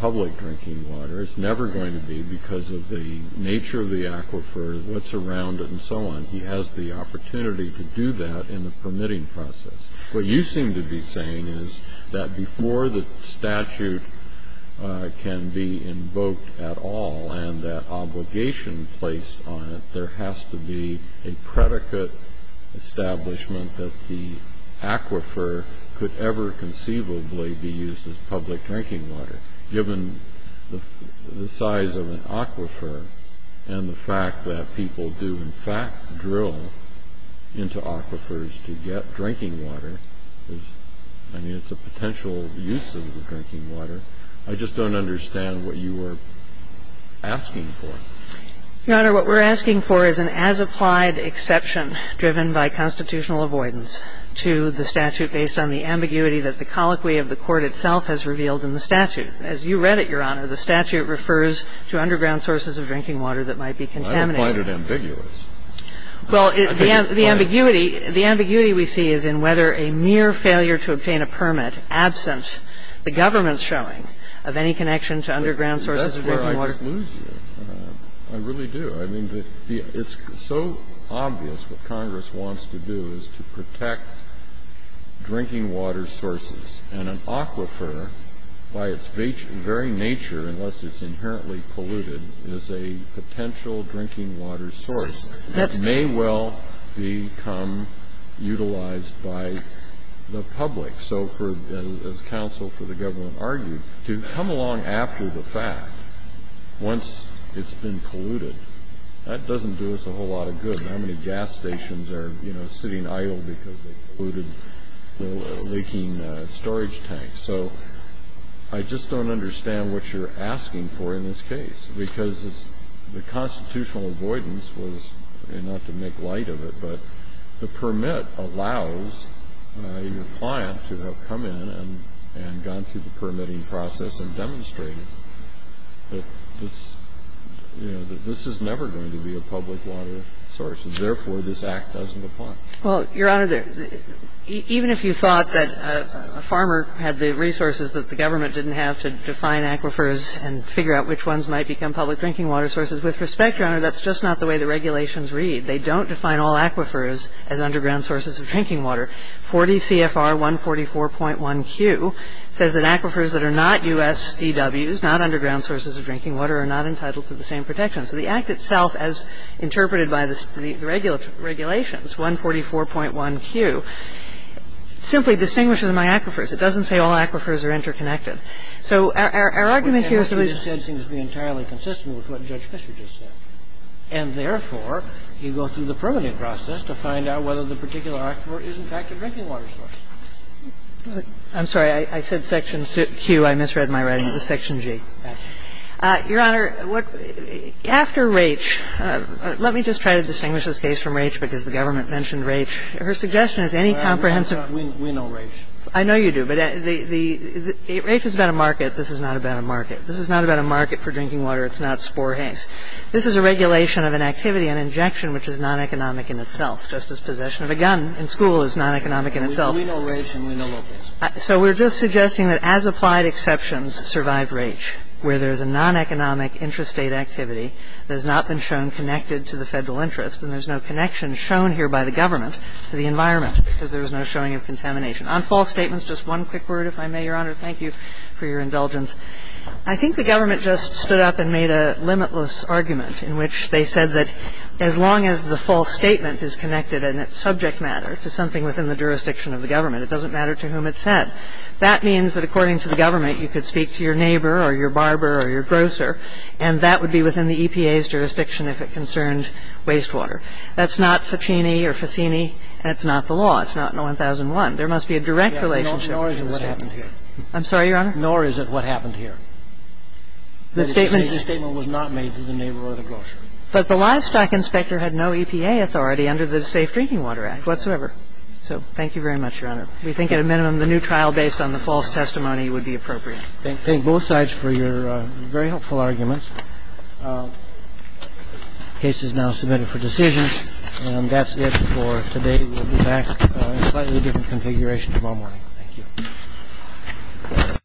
public drinking water. It's never going to be because of the nature of the aquifer, what's around it, and so on. He has the opportunity to do that in the permitting process. What you seem to be saying is that before the statute can be invoked at all and that obligation placed on it, there has to be a predicate establishment that the aquifer could ever conceivably be used as public drinking water. Given the size of an aquifer and the fact that people do in fact drill into aquifers to get drinking water, I mean, it's a potential use of the drinking water. I just don't understand what you are asking for. Your Honor, what we're asking for is an as-applied exception driven by constitutional avoidance to the statute based on the ambiguity that the colloquy of the Court itself has revealed in the statute. As you read it, Your Honor, the statute refers to underground sources of drinking water that might be contaminated. I don't find it ambiguous. Well, the ambiguity, the ambiguity we see is in whether a mere failure to obtain a permit absent the government's showing of any connection to underground sources of drinking water. That's where I just lose you. I really do. I mean, it's so obvious what Congress wants to do is to protect drinking water sources, and an aquifer, by its very nature, unless it's inherently polluted, is a potential drinking water source. That may well become utilized by the public. So as counsel for the government argued, to come along after the fact once it's been polluted, that doesn't do us a whole lot of good. How many gas stations are, you know, sitting idle because they've polluted leaking storage tanks? So I just don't understand what you're asking for in this case, because the constitutional avoidance was not to make light of it, but the permit allows your client to have come in and gone through the permitting process and demonstrated that this, you know, that this is never going to be a public water source, and therefore, this Act doesn't apply. Well, Your Honor, even if you thought that a farmer had the resources that the government didn't have to define aquifers and figure out which ones might become public drinking water sources, with respect, Your Honor, that's just not the way the regulations read. They don't define all aquifers as underground sources of drinking water. 40 CFR 144.1Q says that aquifers that are not USDWs, not underground sources of drinking water, are not entitled to the same protection. So the Act itself, as interpreted by the regulations, 144.1Q, simply distinguishes my aquifers. It doesn't say all aquifers are interconnected. So our argument here is that we need to be entirely consistent with what Judge Fisher just said, and therefore, you go through the permitting process to find out whether the particular aquifer is, in fact, a drinking water source. I'm sorry. I said section Q. I misread my writing. It was section G. Your Honor, after Raich, let me just try to distinguish this case from Raich because the government mentioned Raich. Her suggestion is any comprehensive We know Raich. I know you do. But Raich is about a market. This is not about a market. This is not about a market for drinking water. It's not spore haze. This is a regulation of an activity, an injection, which is non-economic in itself, just as possession of a gun in school is non-economic in itself. We know Raich and we know Lopez. So we're just suggesting that as applied exceptions, survive Raich. One is the Federal interest rate, which is a non-economic interest rate activity that has not been shown connected to the Federal interest and there's no connection shown here by the government to the environment because there was no showing of contamination. On false statements, just one quick word, if I may, Your Honor, thank you for your indulgence. I think the government just stood up and made a limitless argument in which they said that as long as the false statement is connected in its subject matter to something within the jurisdiction of the government, it doesn't matter to whom it's said. That means that according to the government, you could speak to your neighbor or your barber or your grocer and that would be within the EPA's jurisdiction if it concerned wastewater. That's not Ficini or Ficini. That's not the law. It's not in 1001. There must be a direct relationship. I'm sorry, Your Honor. Nor is it what happened here. The statement was not made to the neighbor or the grocer. But the livestock inspector had no EPA authority under the Safe Drinking Water Act whatsoever. So thank you very much, Your Honor. We think at a minimum the new trial based on the false testimony would be appropriate. Thank both sides for your very helpful arguments. The case is now submitted for decision. And that's it for today. We'll be back in a slightly different configuration tomorrow morning. Thank you.